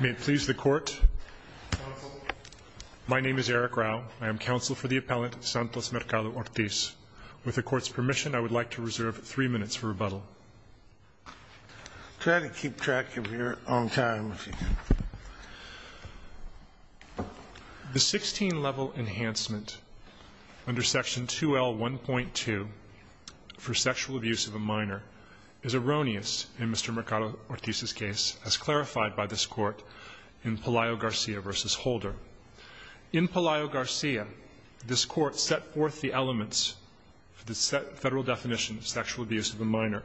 May it please the Court. My name is Eric Rao. I am counsel for the appellant Santos Mercado-Ortiz. With the Court's permission, I would like to reserve three minutes for rebuttal. Try to keep track of your own time, if you can. The 16-level enhancement under section 2L1.2 for sexual abuse of a minor is erroneous in Mr. Mercado-Ortiz's case, as clarified by this Court in Pelayo-Garcia v. Holder. In Pelayo-Garcia, this Court set forth the elements for the federal definition of sexual abuse of a minor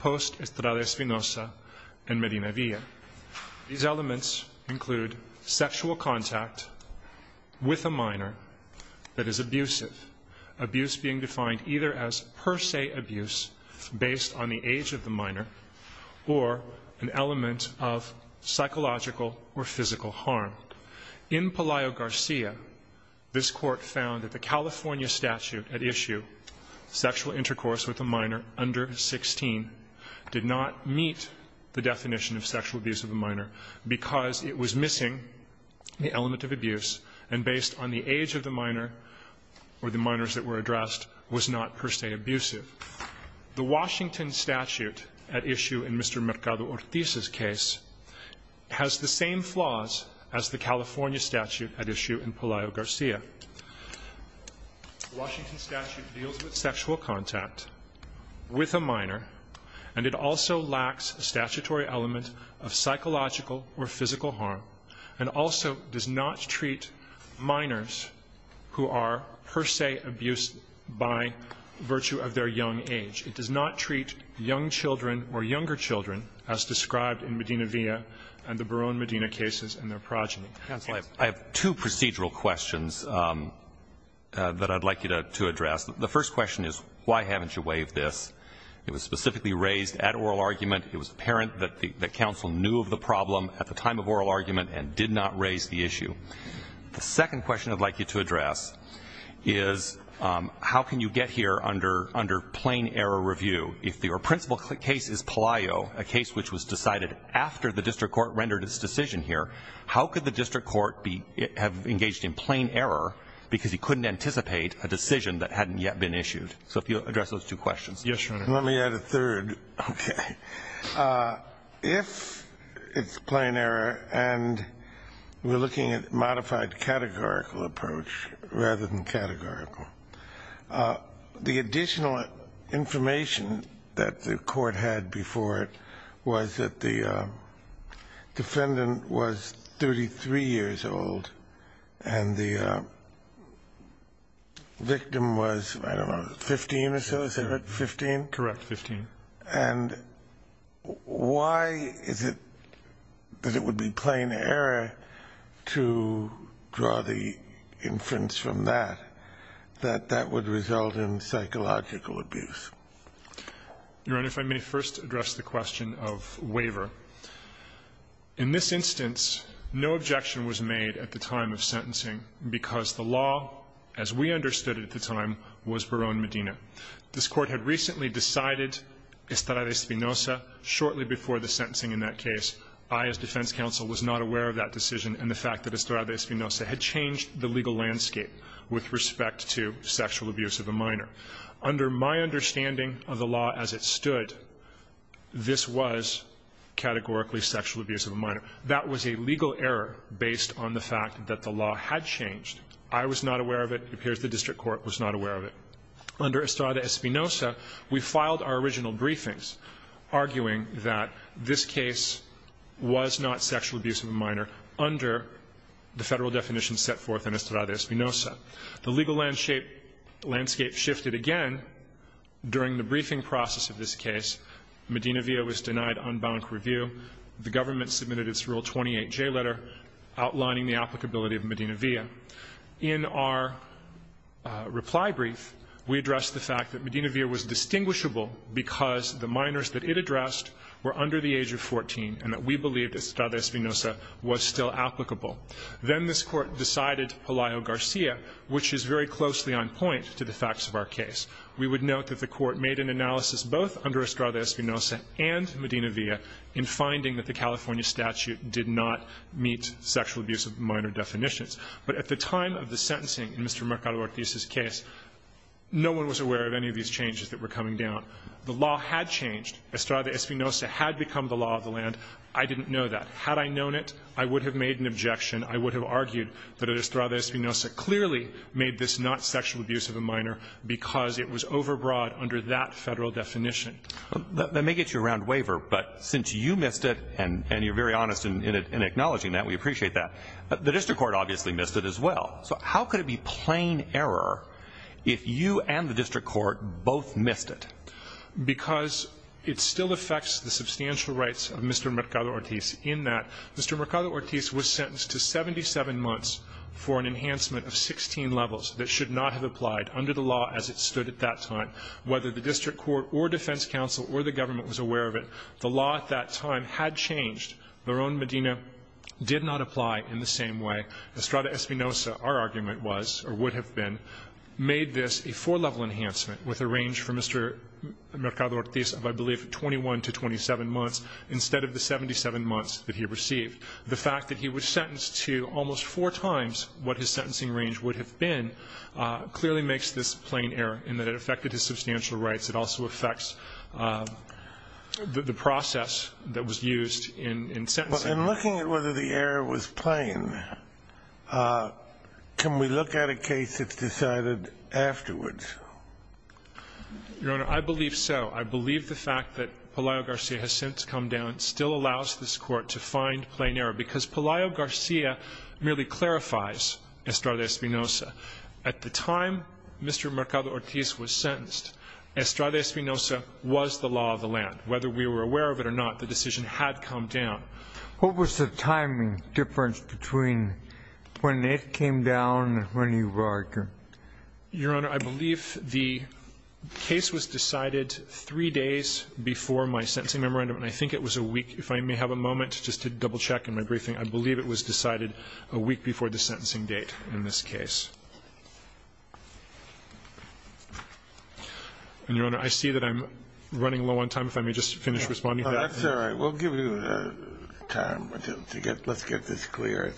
post Estrada Espinosa and Medina Villa. These elements include sexual contact with a minor that is abusive, abuse being defined either as per se abuse based on the age of the minor or an element of psychological or physical harm. In Pelayo-Garcia, this Court found that the California statute at issue, sexual intercourse with a minor under 16, did not meet the definition of sexual abuse of a minor because it was missing the element of abuse and based on the age of the minor or the minors that were addressed was not per se abusive. The Washington statute at issue in Mr. Mercado-Ortiz's case has the same flaws as the California statute at issue in Pelayo-Garcia. The Washington statute deals with sexual contact with a minor and it also lacks a statutory element of psychological or physical harm and also does not treat minors who are per se abused by virtue of their young age. It does not treat young children or younger children as described in Medina Villa and the Barone Medina cases and their progeny. I have two procedural questions that I'd like you to address. The first question is why haven't you waived this? It was specifically raised at oral argument. It was apparent that counsel knew of the problem at the time of oral argument and did not raise the issue. The second question I'd like you to address is how can you get here under plain error review? If your principal case is Pelayo, a case which was decided after the district court rendered its decision here, how could the district court have engaged in plain error because he couldn't anticipate a decision that hadn't yet been issued? Yes, Your Honor. Let me add a third. Okay. If it's plain error and we're looking at modified categorical approach rather than categorical, the additional information that the court had before it was that the defendant was 33 years old and the victim was, I don't know, 15 or so? Is it 15? Correct, 15. And why is it that it would be plain error to draw the inference from that that that would result in psychological abuse? Your Honor, if I may first address the question of waiver. In this instance, no objection was made at the time of sentencing because the law, as we understood it at the time, was Barone Medina. This Court had recently decided Estrada Espinosa shortly before the sentencing in that case. I, as defense counsel, was not aware of that decision and the fact that Estrada Espinosa had changed the legal landscape with respect to sexual abuse of a minor. Under my understanding of the law as it stood, this was categorically sexual abuse of a minor. That was a legal error based on the fact that the law had changed. I was not aware of it. It appears the district court was not aware of it. Under Estrada Espinosa, we filed our original briefings arguing that this case was not sexual abuse of a minor under the Federal definition set forth in Estrada Espinosa. The legal landscape shifted again during the briefing process of this case. Medina Villa was denied unbanked review. The government submitted its Rule 28J letter outlining the applicability of Medina Villa. In our reply brief, we addressed the fact that Medina Villa was distinguishable because the minors that it addressed were under the age of 14 and that we believed Estrada Espinosa was still applicable. Then this Court decided Palaio Garcia, which is very closely on point to the facts of our case. We would note that the Court made an analysis both under Estrada Espinosa and Medina Villa in finding that the California statute did not meet sexual abuse of minor definitions. But at the time of the sentencing in Mr. Mercado Ortiz's case, no one was aware of any of these changes that were coming down. The law had changed. Estrada Espinosa had become the law of the land. I didn't know that. Had I known it, I would have made an objection. I would have argued that Estrada Espinosa clearly made this not sexual abuse of a minor because it was overbroad under that Federal definition. That may get you a round waiver. But since you missed it and you're very honest in acknowledging that, we appreciate that. The district court obviously missed it as well. So how could it be plain error if you and the district court both missed it? Because it still affects the substantial rights of Mr. Mercado Ortiz in that Mr. Mercado Ortiz was sentenced to 77 months for an enhancement of 16 levels that should not have applied under the law as it stood at that time. Whether the district court or defense counsel or the government was aware of it, the law at that time had changed. Verón Medina did not apply in the same way. Estrada Espinosa, our argument was, or would have been, made this a four-level enhancement with a range for Mr. Mercado Ortiz of, I believe, 21 to 27 months instead of the 77 months that he received. The fact that he was sentenced to almost four times what his sentencing range would have been clearly makes this plain error in that it affected his substantial rights. It also affects the process that was used in sentencing. In looking at whether the error was plain, can we look at a case that's decided afterwards? Your Honor, I believe so. I believe the fact that Pelayo-Garcia has since come down still allows this court to find plain error because Pelayo-Garcia merely clarifies Estrada Espinosa. At the time Mr. Mercado Ortiz was sentenced, Estrada Espinosa was the law of the land. Whether we were aware of it or not, the decision had come down. What was the timing difference between when it came down and when he arrived? Your Honor, I believe the case was decided three days before my sentencing memorandum, and I think it was a week. If I may have a moment just to double-check in my briefing, I believe it was decided a week before the sentencing date in this case. And, Your Honor, I see that I'm running low on time. If I may just finish responding to that. That's all right. We'll give you time to get this clear.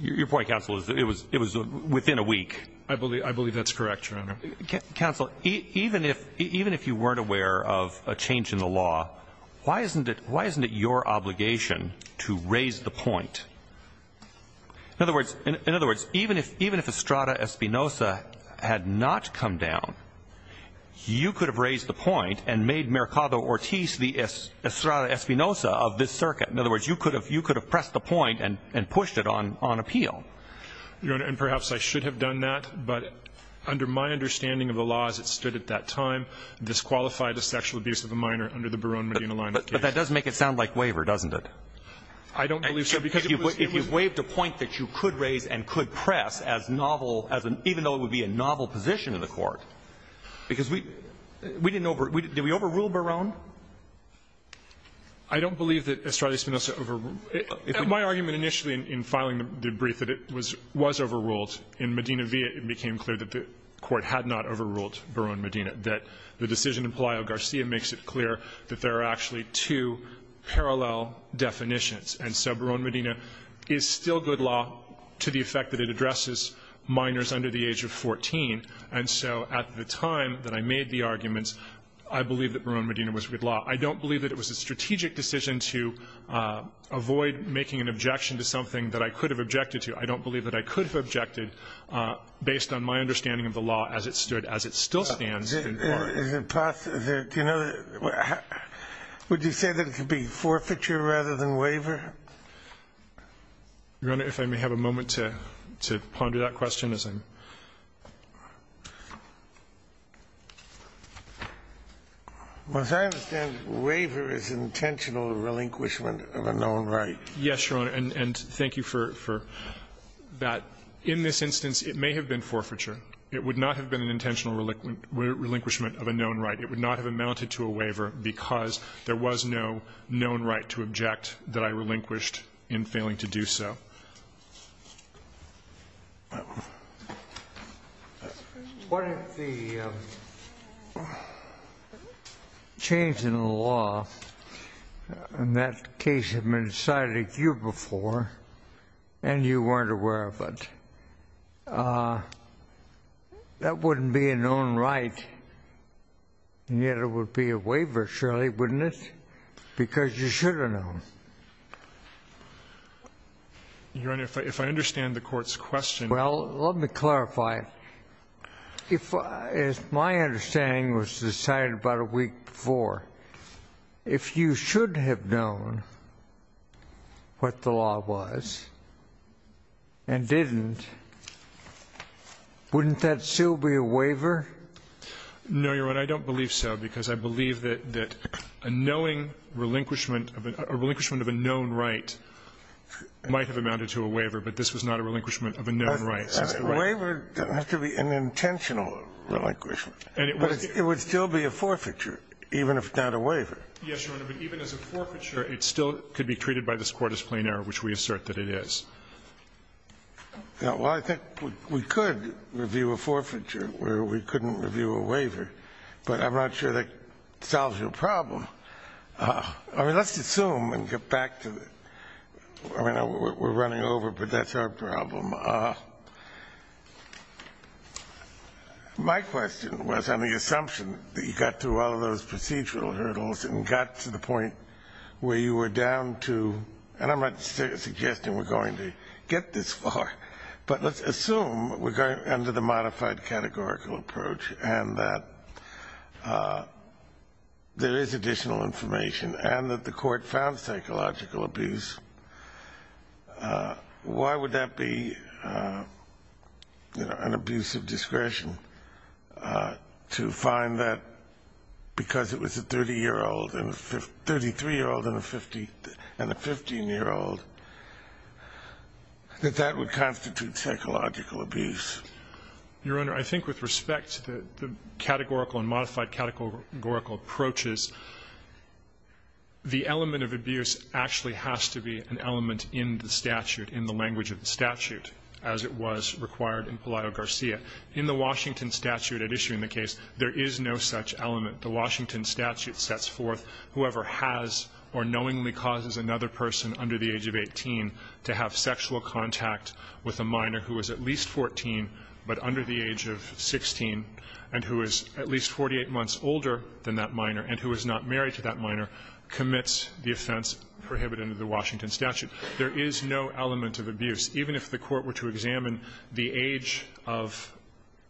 Your point, counsel, is that it was within a week. I believe that's correct, Your Honor. Counsel, even if you weren't aware of a change in the law, why isn't it your obligation to raise the point? In other words, even if Estrada Espinosa had not come down, you could have raised the point and made Mercado Ortiz the Estrada Espinosa of this circuit. In other words, you could have pressed the point and pushed it on appeal. Your Honor, and perhaps I should have done that, but under my understanding of the laws that stood at that time, disqualified the sexual abuse of a minor under the Barone-Medina line of case. But that does make it sound like waiver, doesn't it? I don't believe so. If you've waived a point that you could raise and could press as novel, even though it would be a novel position in the Court, because we didn't overrule. Did we overrule Barone? I don't believe that Estrada Espinosa overruled. My argument initially in filing the brief that it was overruled, in Medina v. It became clear that the Court had not overruled Barone-Medina, that the decision in Pelayo-Garcia makes it clear that there are actually two parallel definitions. And so Barone-Medina is still good law to the effect that it addresses minors under the age of 14. And so at the time that I made the arguments, I believed that Barone-Medina was good law. I don't believe that it was a strategic decision to avoid making an objection to something that I could have objected to. I don't believe that I could have objected based on my understanding of the law as it stood, as it still stands. Scalia. to something that I could have objected to. Scalia. Would you say that it could be forfeiture rather than waiver? Your Honor, if I may have a moment to ponder that question as I'm going to. As I understand, waiver is intentional relinquishment of a known right. Yes, Your Honor. And thank you for that. In this instance, it may have been forfeiture. It would not have been an intentional relinquishment of a known right. It would not have amounted to a waiver because there was no known right to object that I relinquished in failing to do so. What if the change in the law in that case had been decided a year before and you weren't aware of it? That wouldn't be a known right, and yet it would be a waiver, surely, wouldn't it? Because you should have known. Your Honor, if I understand the Court's question. Well, let me clarify. If my understanding was decided about a week before, if you should have known what the law was and didn't, wouldn't that still be a waiver? No, Your Honor. I don't believe so because I believe that a knowing relinquishment of a known right might have amounted to a waiver, but this was not a relinquishment of a known right. A waiver doesn't have to be an intentional relinquishment, but it would still be a forfeiture even if not a waiver. Yes, Your Honor, but even as a forfeiture, it still could be treated by this Court as plain error, which we assert that it is. Well, I think we could review a forfeiture where we couldn't review a waiver, but I'm not sure that solves your problem. I mean, let's assume and get back to it. I mean, we're running over, but that's our problem. My question was on the assumption that you got through all of those procedural hurdles and got to the point where you were down to, and I'm not suggesting we're going to get this far, but let's assume we're going under the modified categorical approach and that there is additional information and that the Court found psychological abuse. Why would that be an abuse of discretion to find that because it was a 30-year-old and a 53-year-old and a 15-year-old that that would constitute psychological abuse? Your Honor, I think with respect to the categorical and modified categorical approaches, the element of abuse actually has to be an element in the statute, in the language of the statute, as it was required in Pelayo-Garcia. In the Washington statute at issue in the case, there is no such element. The Washington statute sets forth whoever has or knowingly causes another person under the age of 18 to have sexual contact with a minor who is at least 14 but under the age of 16 and who is at least 48 months older than that minor and who is not married to that minor commits the offense prohibited under the Washington statute. There is no element of abuse. Even if the Court were to examine the age of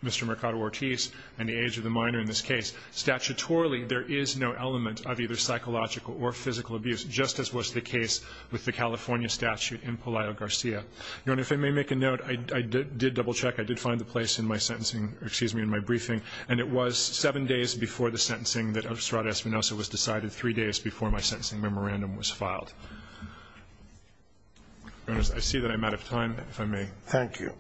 Mr. Mercado-Ortiz and the age of the minor in this case, statutorily there is no element of either psychological or physical abuse, just as was the case with the California statute in Pelayo-Garcia. Your Honor, if I may make a note, I did double-check. I did find the place in my sentencing or, excuse me, in my briefing, and it was 7 days before the sentencing that Ostrada-Espinosa was decided 3 days before my sentencing memorandum was filed. Your Honor, I see that I'm out of time, if I may. Thank you.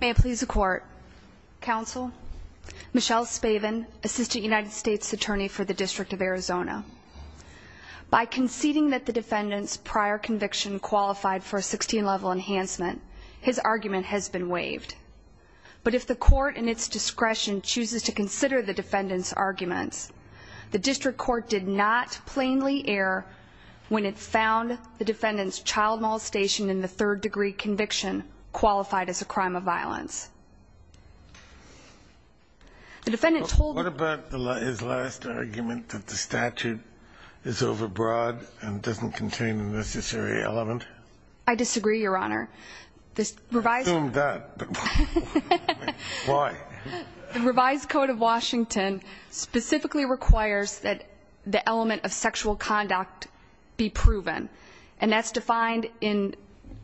May it please the Court. Counsel, Michelle Spaven, Assistant United States Attorney for the District of Arizona. By conceding that the defendant's prior conviction qualified for a 16-level enhancement, his argument has been waived. But if the Court, in its discretion, chooses to consider the defendant's arguments, the District Court did not plainly err when it found the defendant's child molestation in the third-degree conviction qualified as a crime of violence. What about his last argument that the statute is overbroad and doesn't contain the necessary element? I disagree, Your Honor. I assumed that, but why? The revised Code of Washington specifically requires that the element of sexual conduct be proven, and that's defined in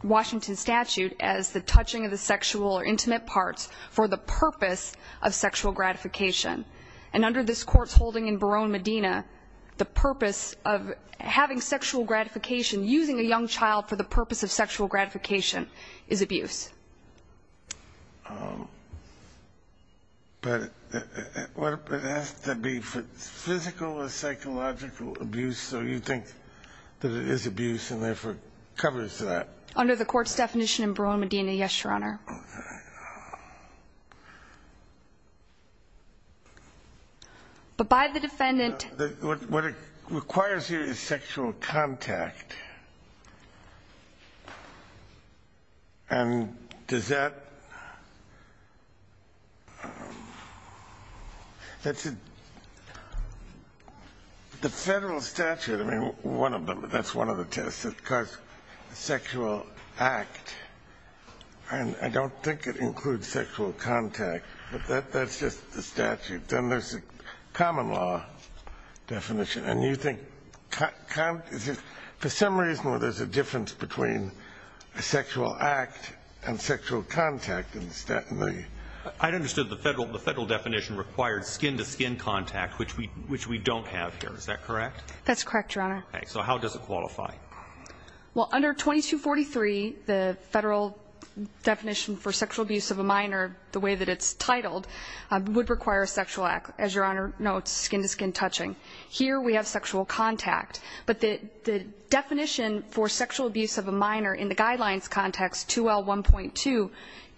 Washington's statute as the touching of the sexual or intimate parts for the purpose of sexual gratification. And under this Court's holding in Barone-Medina, the purpose of having sexual gratification, using a young child for the purpose of sexual gratification, is abuse. But it has to be physical or psychological abuse, so you think that it is wrong, Your Honor. But by the defendant... What it requires here is sexual contact. And does that... The federal statute, I mean, one of them, that's one of the tests, it requires sexual act. And I don't think it includes sexual contact, but that's just the statute. Then there's the common law definition. And you think, for some reason, there's a difference between a sexual act and sexual contact in the statute. I understood the federal definition required skin-to-skin contact, which we don't Is that correct? That's correct, Your Honor. Okay. So how does it qualify? Well, under 2243, the federal definition for sexual abuse of a minor, the way that it's titled, would require a sexual act, as Your Honor notes, skin-to-skin touching. Here we have sexual contact. But the definition for sexual abuse of a minor in the Guidelines context, 2L1.2,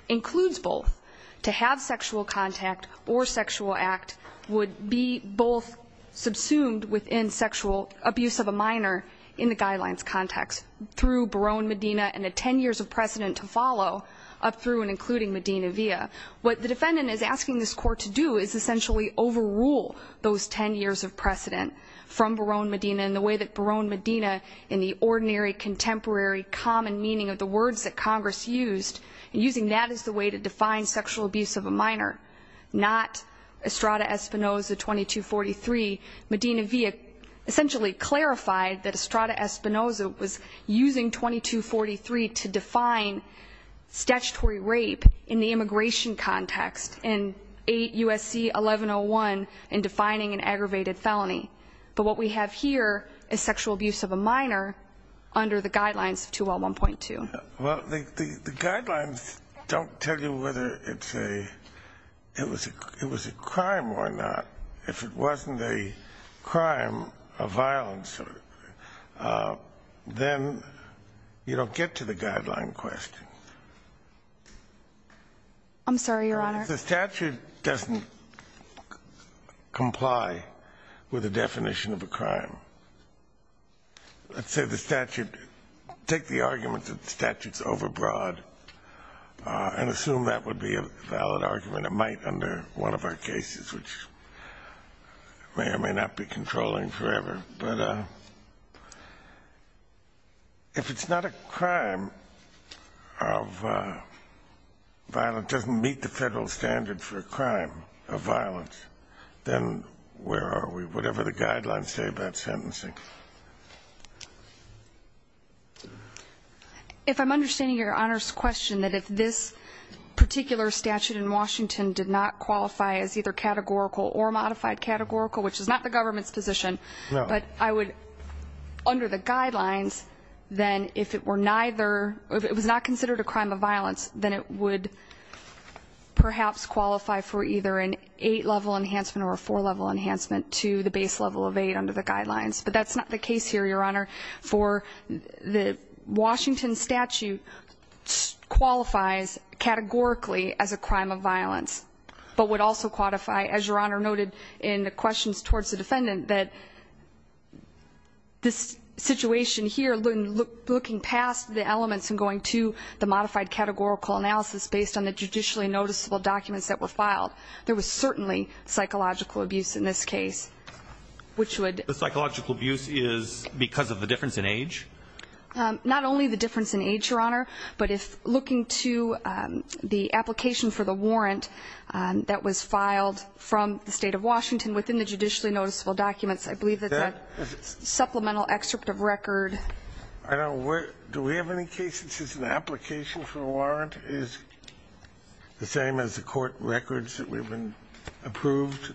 includes both. To have sexual contact or sexual act would be both subsumed within sexual abuse of a minor in the Guidelines context, through Barone Medina and a 10 years of precedent to follow up through and including Medina Via. What the defendant is asking this Court to do is essentially overrule those 10 years of precedent from Barone Medina in the way that Barone Medina, in the ordinary, contemporary, common meaning of the words that Congress used, using that as the way to define sexual abuse of a minor, not Estrada Espinoza 2243, Medina Via, essentially clarified that Estrada Espinoza was using 2243 to define statutory rape in the immigration context in 8 U.S.C. 1101 in defining an aggravated felony. But what we have here is sexual abuse of a minor under the Guidelines of 2L1.2. Well, the Guidelines don't tell you whether it's a, it was a crime or not. If it wasn't a crime of violence, then you don't get to the Guideline question. I'm sorry, Your Honor. If the statute doesn't comply with the definition of a crime, let's say the statute take the argument that the statute's overbroad and assume that would be a valid argument. It might under one of our cases, which may or may not be controlling forever. But if it's not a crime of violence, doesn't meet the Federal standard for a crime of violence, then where are we, whatever the Guidelines say about sentencing? If I'm understanding Your Honor's question, that if this particular statute in Washington did not qualify as either categorical or modified categorical, which is not the government's position, but I would, under the Guidelines, then if it were neither, if it was not considered a crime of violence, then it would perhaps qualify for either an eight-level enhancement or a four-level enhancement to the base level of eight under the Guidelines. But that's not the case here, Your Honor, for the Washington statute qualifies categorically as a crime of violence, but would also qualify, as Your Honor noted in the questions towards the defendant, that this situation here, looking past the elements and going to the modified categorical analysis based on the judicially noticeable documents that were filed, there was certainly psychological abuse in this case, which would ---- The psychological abuse is because of the difference in age? Not only the difference in age, Your Honor, but if looking to the application for the warrant that was filed from the State of Washington within the judicially noticeable documents, I believe that that supplemental excerpt of record ---- I don't know where ---- Do we have any case that says an application for a warrant is the same as the court records that we've been approved?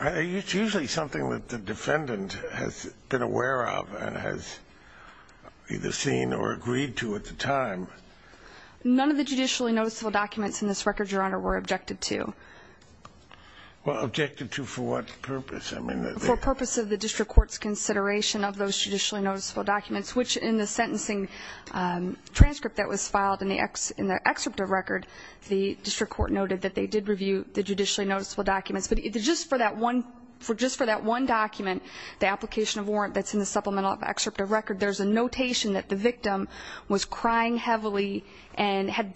It's usually something that the defendant has been aware of and has either seen or agreed to at the time. None of the judicially noticeable documents in this record, Your Honor, were objected to. Well, objected to for what purpose? I mean ---- For purpose of the district court's consideration of those judicially noticeable documents, which in the sentencing transcript that was filed in the excerpt of record, the district court noted that they did review the judicially noticeable documents. But just for that one document, the application of warrant that's in the supplemental excerpt of record, there's a notation that the victim was crying heavily and had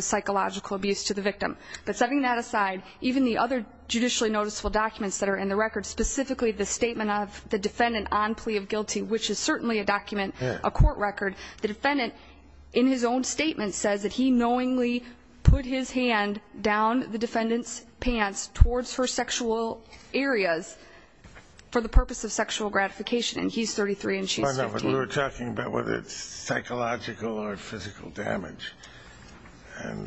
psychological abuse to the victim. But setting that aside, even the other judicially noticeable documents that are in the record, specifically the statement of the defendant on plea of guilty, which is certainly a document, a court record, the defendant in his own statement says that he knowingly put his hand down the defendant's pants towards her sexual areas for the purpose of sexual gratification, and he's 33 and she's 15. But we were talking about whether it's psychological or physical damage.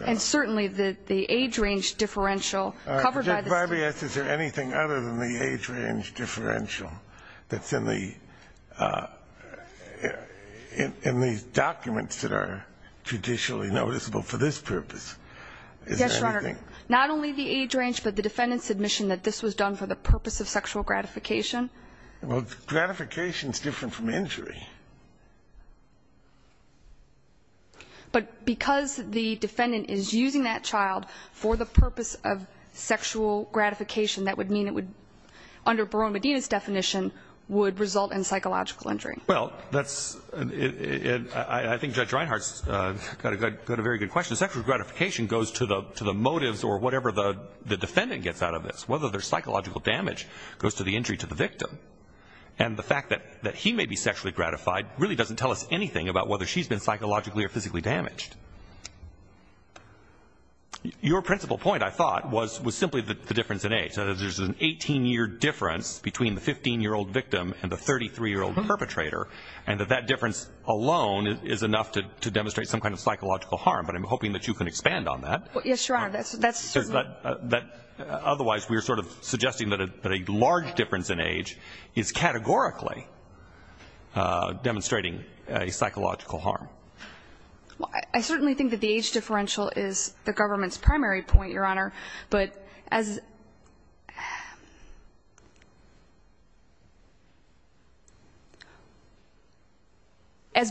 And certainly the age range differential covered by the statement. All right. Judge Vargas, is there anything other than the age range differential that's in the documents that are judicially noticeable for this purpose? Yes, Your Honor. Is there anything? Not only the age range, but the defendant's admission that this was done for the purpose of sexual gratification. Well, gratification is different from injury. But because the defendant is using that child for the purpose of sexual gratification, that would mean it would, under Barone Medina's definition, would result in psychological injury. Well, that's, I think Judge Reinhart's got a very good question. Sexual gratification goes to the motives or whatever the defendant gets out of this. Whether there's psychological damage goes to the injury to the victim. And the fact that he may be sexually gratified really doesn't tell us anything about whether she's been psychologically or physically damaged. Your principal point, I thought, was simply the difference in age, that there's an 18-year difference between the 15-year-old victim and the 33-year-old perpetrator, and that that difference alone is enough to demonstrate some kind of psychological harm. Yes, Your Honor. Otherwise, we're sort of suggesting that a large difference in age is categorically demonstrating a psychological harm. Well, I certainly think that the age differential is the government's primary point, Your Honor. But as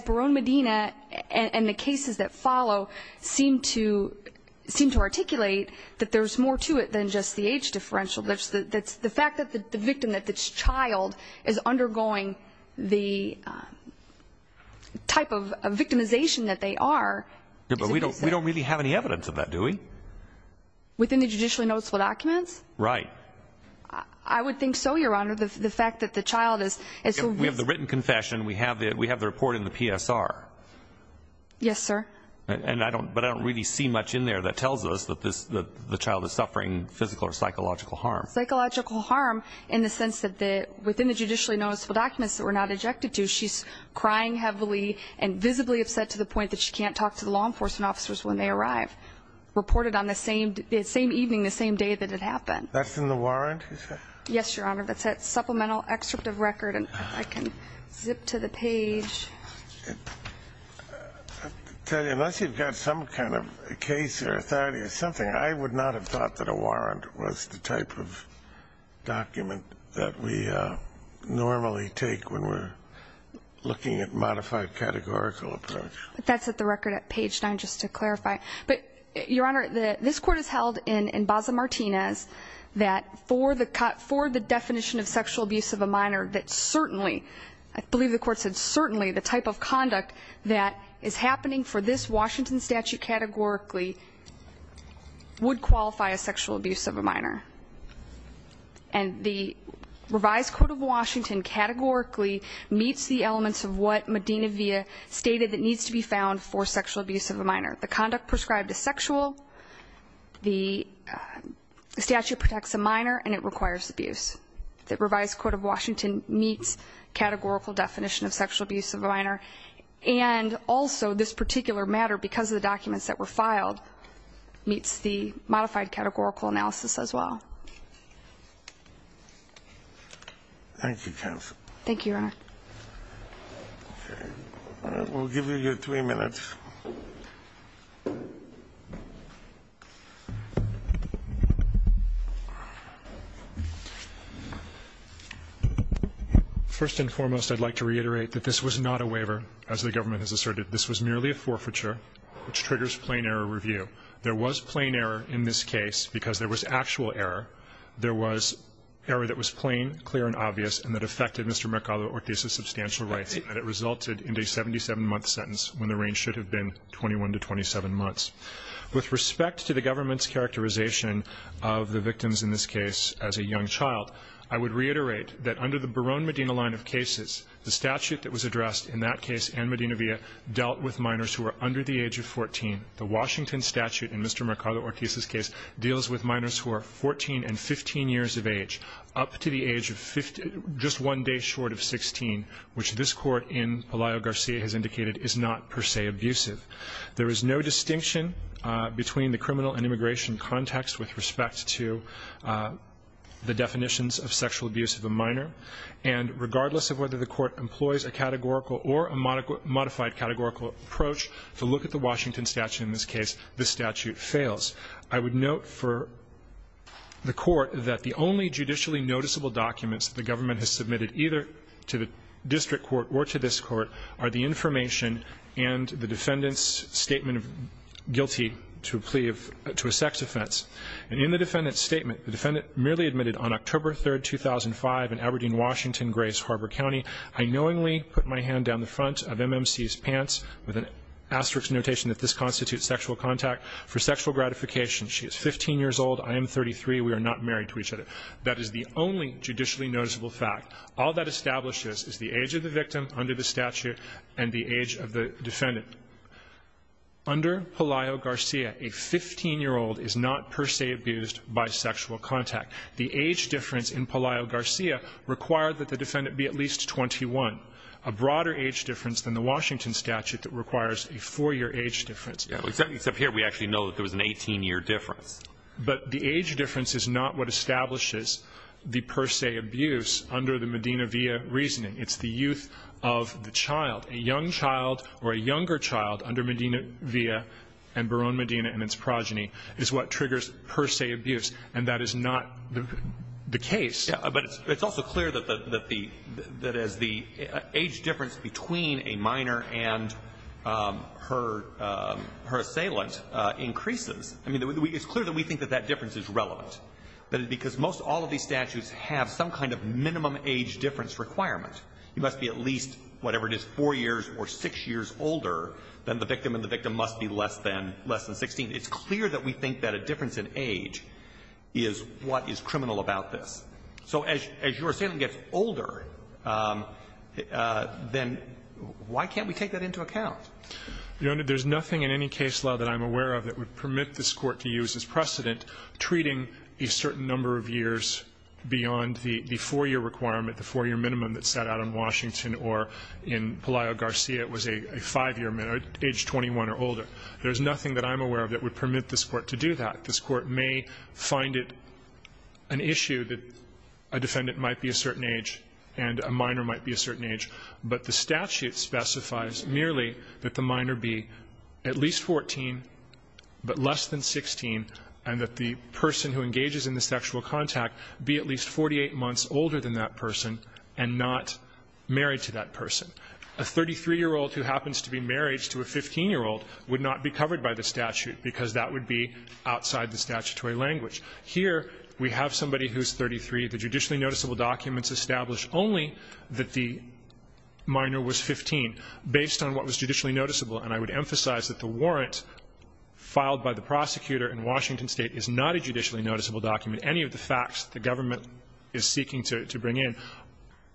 Barone Medina and the cases that follow seem to articulate that there's more to it than just the age differential. The fact that the victim, that this child, is undergoing the type of victimization that they are is a good sign. But we don't really have any evidence of that, do we? Within the judicially noticeable documents? Right. I would think so, Your Honor. The fact that the child is... We have the written confession. We have the report in the PSR. Yes, sir. But I don't really see much in there that tells us that the child is suffering physical or psychological harm. Psychological harm in the sense that within the judicially noticeable documents that we're not ejected to, she's crying heavily and visibly upset to the point that she can't talk to the law enforcement officers when they arrive. Reported on the same evening, the same day that it happened. That's in the warrant? Yes, Your Honor. That's that supplemental excerpt of record. I can zip to the page. I'll tell you, unless you've got some kind of case or authority or something, I would not have thought that a warrant was the type of document that we normally take when we're looking at modified categorical approach. That's at the record at page 9, just to clarify. But, Your Honor, this court has held in Baza Martinez that for the definition of sexual abuse of a minor that certainly, I believe the court said certainly, the type of conduct that is happening for this Washington statute categorically would qualify as sexual abuse of a minor. And the revised court of Washington categorically meets the elements of what Medina Villa stated that needs to be found for sexual abuse of a minor. The conduct prescribed is sexual, the statute protects a minor, and it requires abuse. The revised court of Washington meets categorical definition of sexual abuse of a minor, and also this particular matter, because of the documents that were filed, meets the modified categorical analysis as well. Thank you, counsel. Thank you, Your Honor. Okay. We'll give you your three minutes. First and foremost, I'd like to reiterate that this was not a waiver, as the government has asserted. This was merely a forfeiture, which triggers plain error review. There was plain error in this case, because there was actual error. There was error that was plain, clear, and obvious, and that affected Mr. Mercado-Ortiz's substantial rights, and it resulted in a 77-month sentence, when the range should have been 21 to 27 months. With respect to the government's characterization of the victims in this case as a young child, I would reiterate that under the Barone-Medina line of cases, the statute that was addressed in that case and Medina Villa dealt with minors who were under the age of 14. The Washington statute in Mr. Mercado-Ortiz's case deals with minors who are 14 and 15 years of age, up to the age of just one day short of 16, which this Court in Pelayo-Garcia has indicated is not per se abusive. There is no distinction between the criminal and immigration context with respect to the definitions of sexual abuse of a minor. And regardless of whether the Court employs a categorical or a modified categorical approach to look at the Washington statute in this case, this statute fails. I would note for the Court that the only judicially noticeable documents that the government has submitted either to the district court or to this court are the information and the defendant's statement of guilty to a plea of to a sex offense. And in the defendant's statement, the defendant merely admitted on October 3, 2005, in Aberdeen, Washington, Grace Harbor County, I knowingly put my hand down the front of MMC's pants with an asterisk notation that this constitutes sexual contact for sexual gratification. She is 15 years old. I am 33. We are not married to each other. That is the only judicially noticeable fact. All that establishes is the age of the victim under the statute and the age of the defendant. Under Pelayo-Garcia, a 15-year-old is not per se abused by sexual contact. The age difference in Pelayo-Garcia required that the defendant be at least 21, a broader age difference than the Washington statute that requires a 4-year age difference. Yeah. Except here we actually know that there was an 18-year difference. But the age difference is not what establishes the per se abuse under the Medina-Villa reasoning. It's the youth of the child. A young child or a younger child under Medina-Villa and Barone Medina and its progeny is what triggers per se abuse. And that is not the case. But it's also clear that as the age difference between a minor and her assailant increases, I mean, it's clear that we think that that difference is relevant. Because most all of these statutes have some kind of minimum age difference requirement. You must be at least, whatever it is, 4 years or 6 years older than the victim and the victim must be less than 16. It's clear that we think that a difference in age is what is criminal about this. So as your assailant gets older, then why can't we take that into account? Your Honor, there's nothing in any case law that I'm aware of that would permit this Court to use as precedent treating a certain number of years beyond the 4-year requirement, the 4-year minimum that set out in Washington or in Pelayo Garcia. It was a 5-year minimum, age 21 or older. There's nothing that I'm aware of that would permit this Court to do that. This Court may find it an issue that a defendant might be a certain age and a minor might be a certain age, but the statute specifies merely that the minor be at least 14 but less than 16 and that the person who engages in the sexual contact be at least 48 months older than that person and not married to that person. A 33-year-old who happens to be married to a 15-year-old would not be covered by the statute because that would be outside the statutory language. Here we have somebody who's 33. The judicially noticeable documents establish only that the minor was 15, based on what was judicially noticeable. And I would emphasize that the warrant filed by the prosecutor in Washington State is not a judicially noticeable document. Any of the facts that the government is seeking to bring in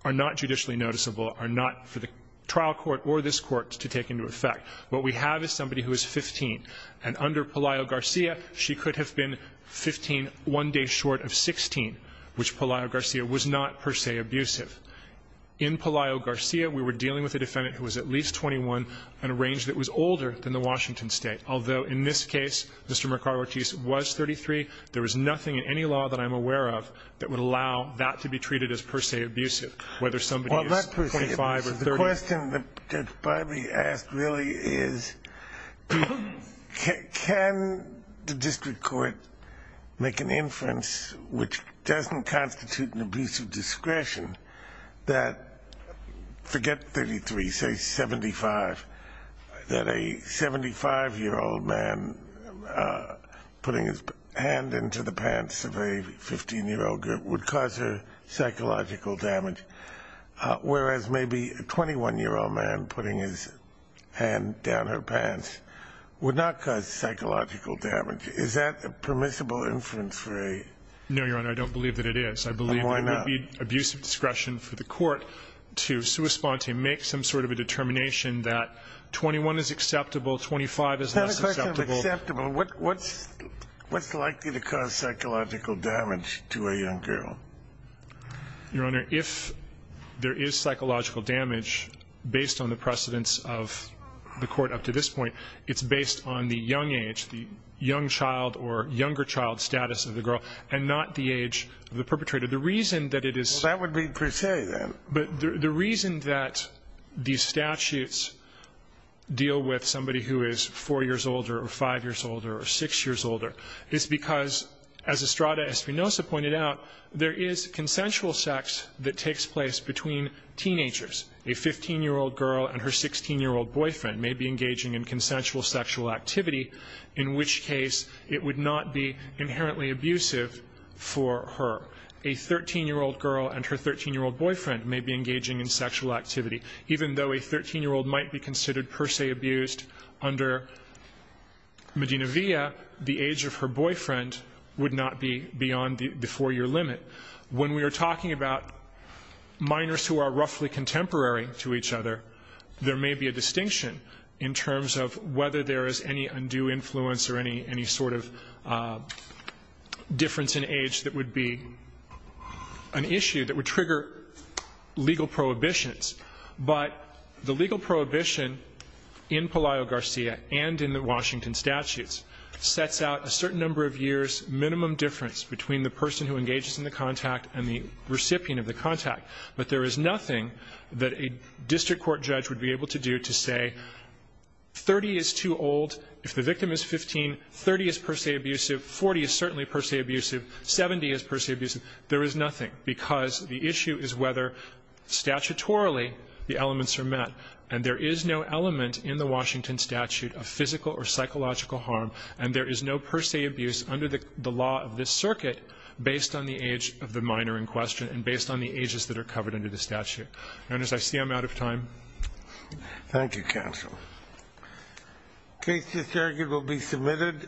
are not judicially noticeable, are not for the trial court or this Court to take into effect. What we have is somebody who is 15, and under Pelayo-Garcia, she could have been 15 one day short of 16, which Pelayo-Garcia was not per se abusive. In Pelayo-Garcia, we were dealing with a defendant who was at least 21 and a range that was older than the Washington State, although in this case, Mr. Mercado-Ortiz was 33. There was nothing in any law that I'm aware of that would allow that to be treated as per se abusive, whether somebody is 25 or 30. The question that Barbee asked really is, can the district court make an inference which doesn't constitute an abusive discretion that, forget 33, say 75, that a 75-year-old man putting his hand into the pants of a 15-year-old girl would cause her psychological damage, whereas maybe a 21-year-old man putting his hand down her pants would not cause psychological damage? Is that a permissible inference for a... No, Your Honor, I don't believe that it is. Why not? I believe it would be abusive discretion for the court to make some sort of a determination that 21 is acceptable, 25 is less acceptable. It's not a question of acceptable. What's likely to cause psychological damage to a young girl? Your Honor, if there is psychological damage based on the precedence of the court up to this point, it's based on the young age, the young child or younger child status of the girl, and not the age of the perpetrator. The reason that it is... Well, that would be per se, then. But the reason that these statutes deal with somebody who is 4 years older or 5 years older or 6 years older is because, as Estrada Espinoza pointed out, there is consensual sex that takes place between teenagers. A 15-year-old girl and her 16-year-old boyfriend may be engaging in consensual sexual activity, in which case it would not be inherently abusive for her. A 13-year-old girl and her 13-year-old boyfriend may be engaging in sexual activity, even though a 13-year-old might be considered per se abused under Medina Villa, the age of her boyfriend would not be beyond the 4-year limit. When we are talking about minors who are roughly contemporary to each other, there may be a distinction in terms of whether there is any undue influence or any sort of difference in age that would be an issue that would trigger legal prohibitions. But the legal prohibition in Pelayo-Garcia and in the Washington statutes sets out a certain number of years minimum difference between the person who engages in the contact and the recipient of the contact. But there is nothing that a district court judge would be able to do to say 30 is too old, if the victim is 15, 30 is per se abusive, 40 is certainly per se abusive, 70 is per se abusive. There is nothing because the issue is whether statutorily the elements are met. And there is no element in the Washington statute of physical or psychological harm, and there is no per se abuse under the law of this circuit based on the age of the minor in question and based on the ages that are covered under the statute. And as I see, I'm out of time. Thank you, counsel. The case is here. It will be submitted.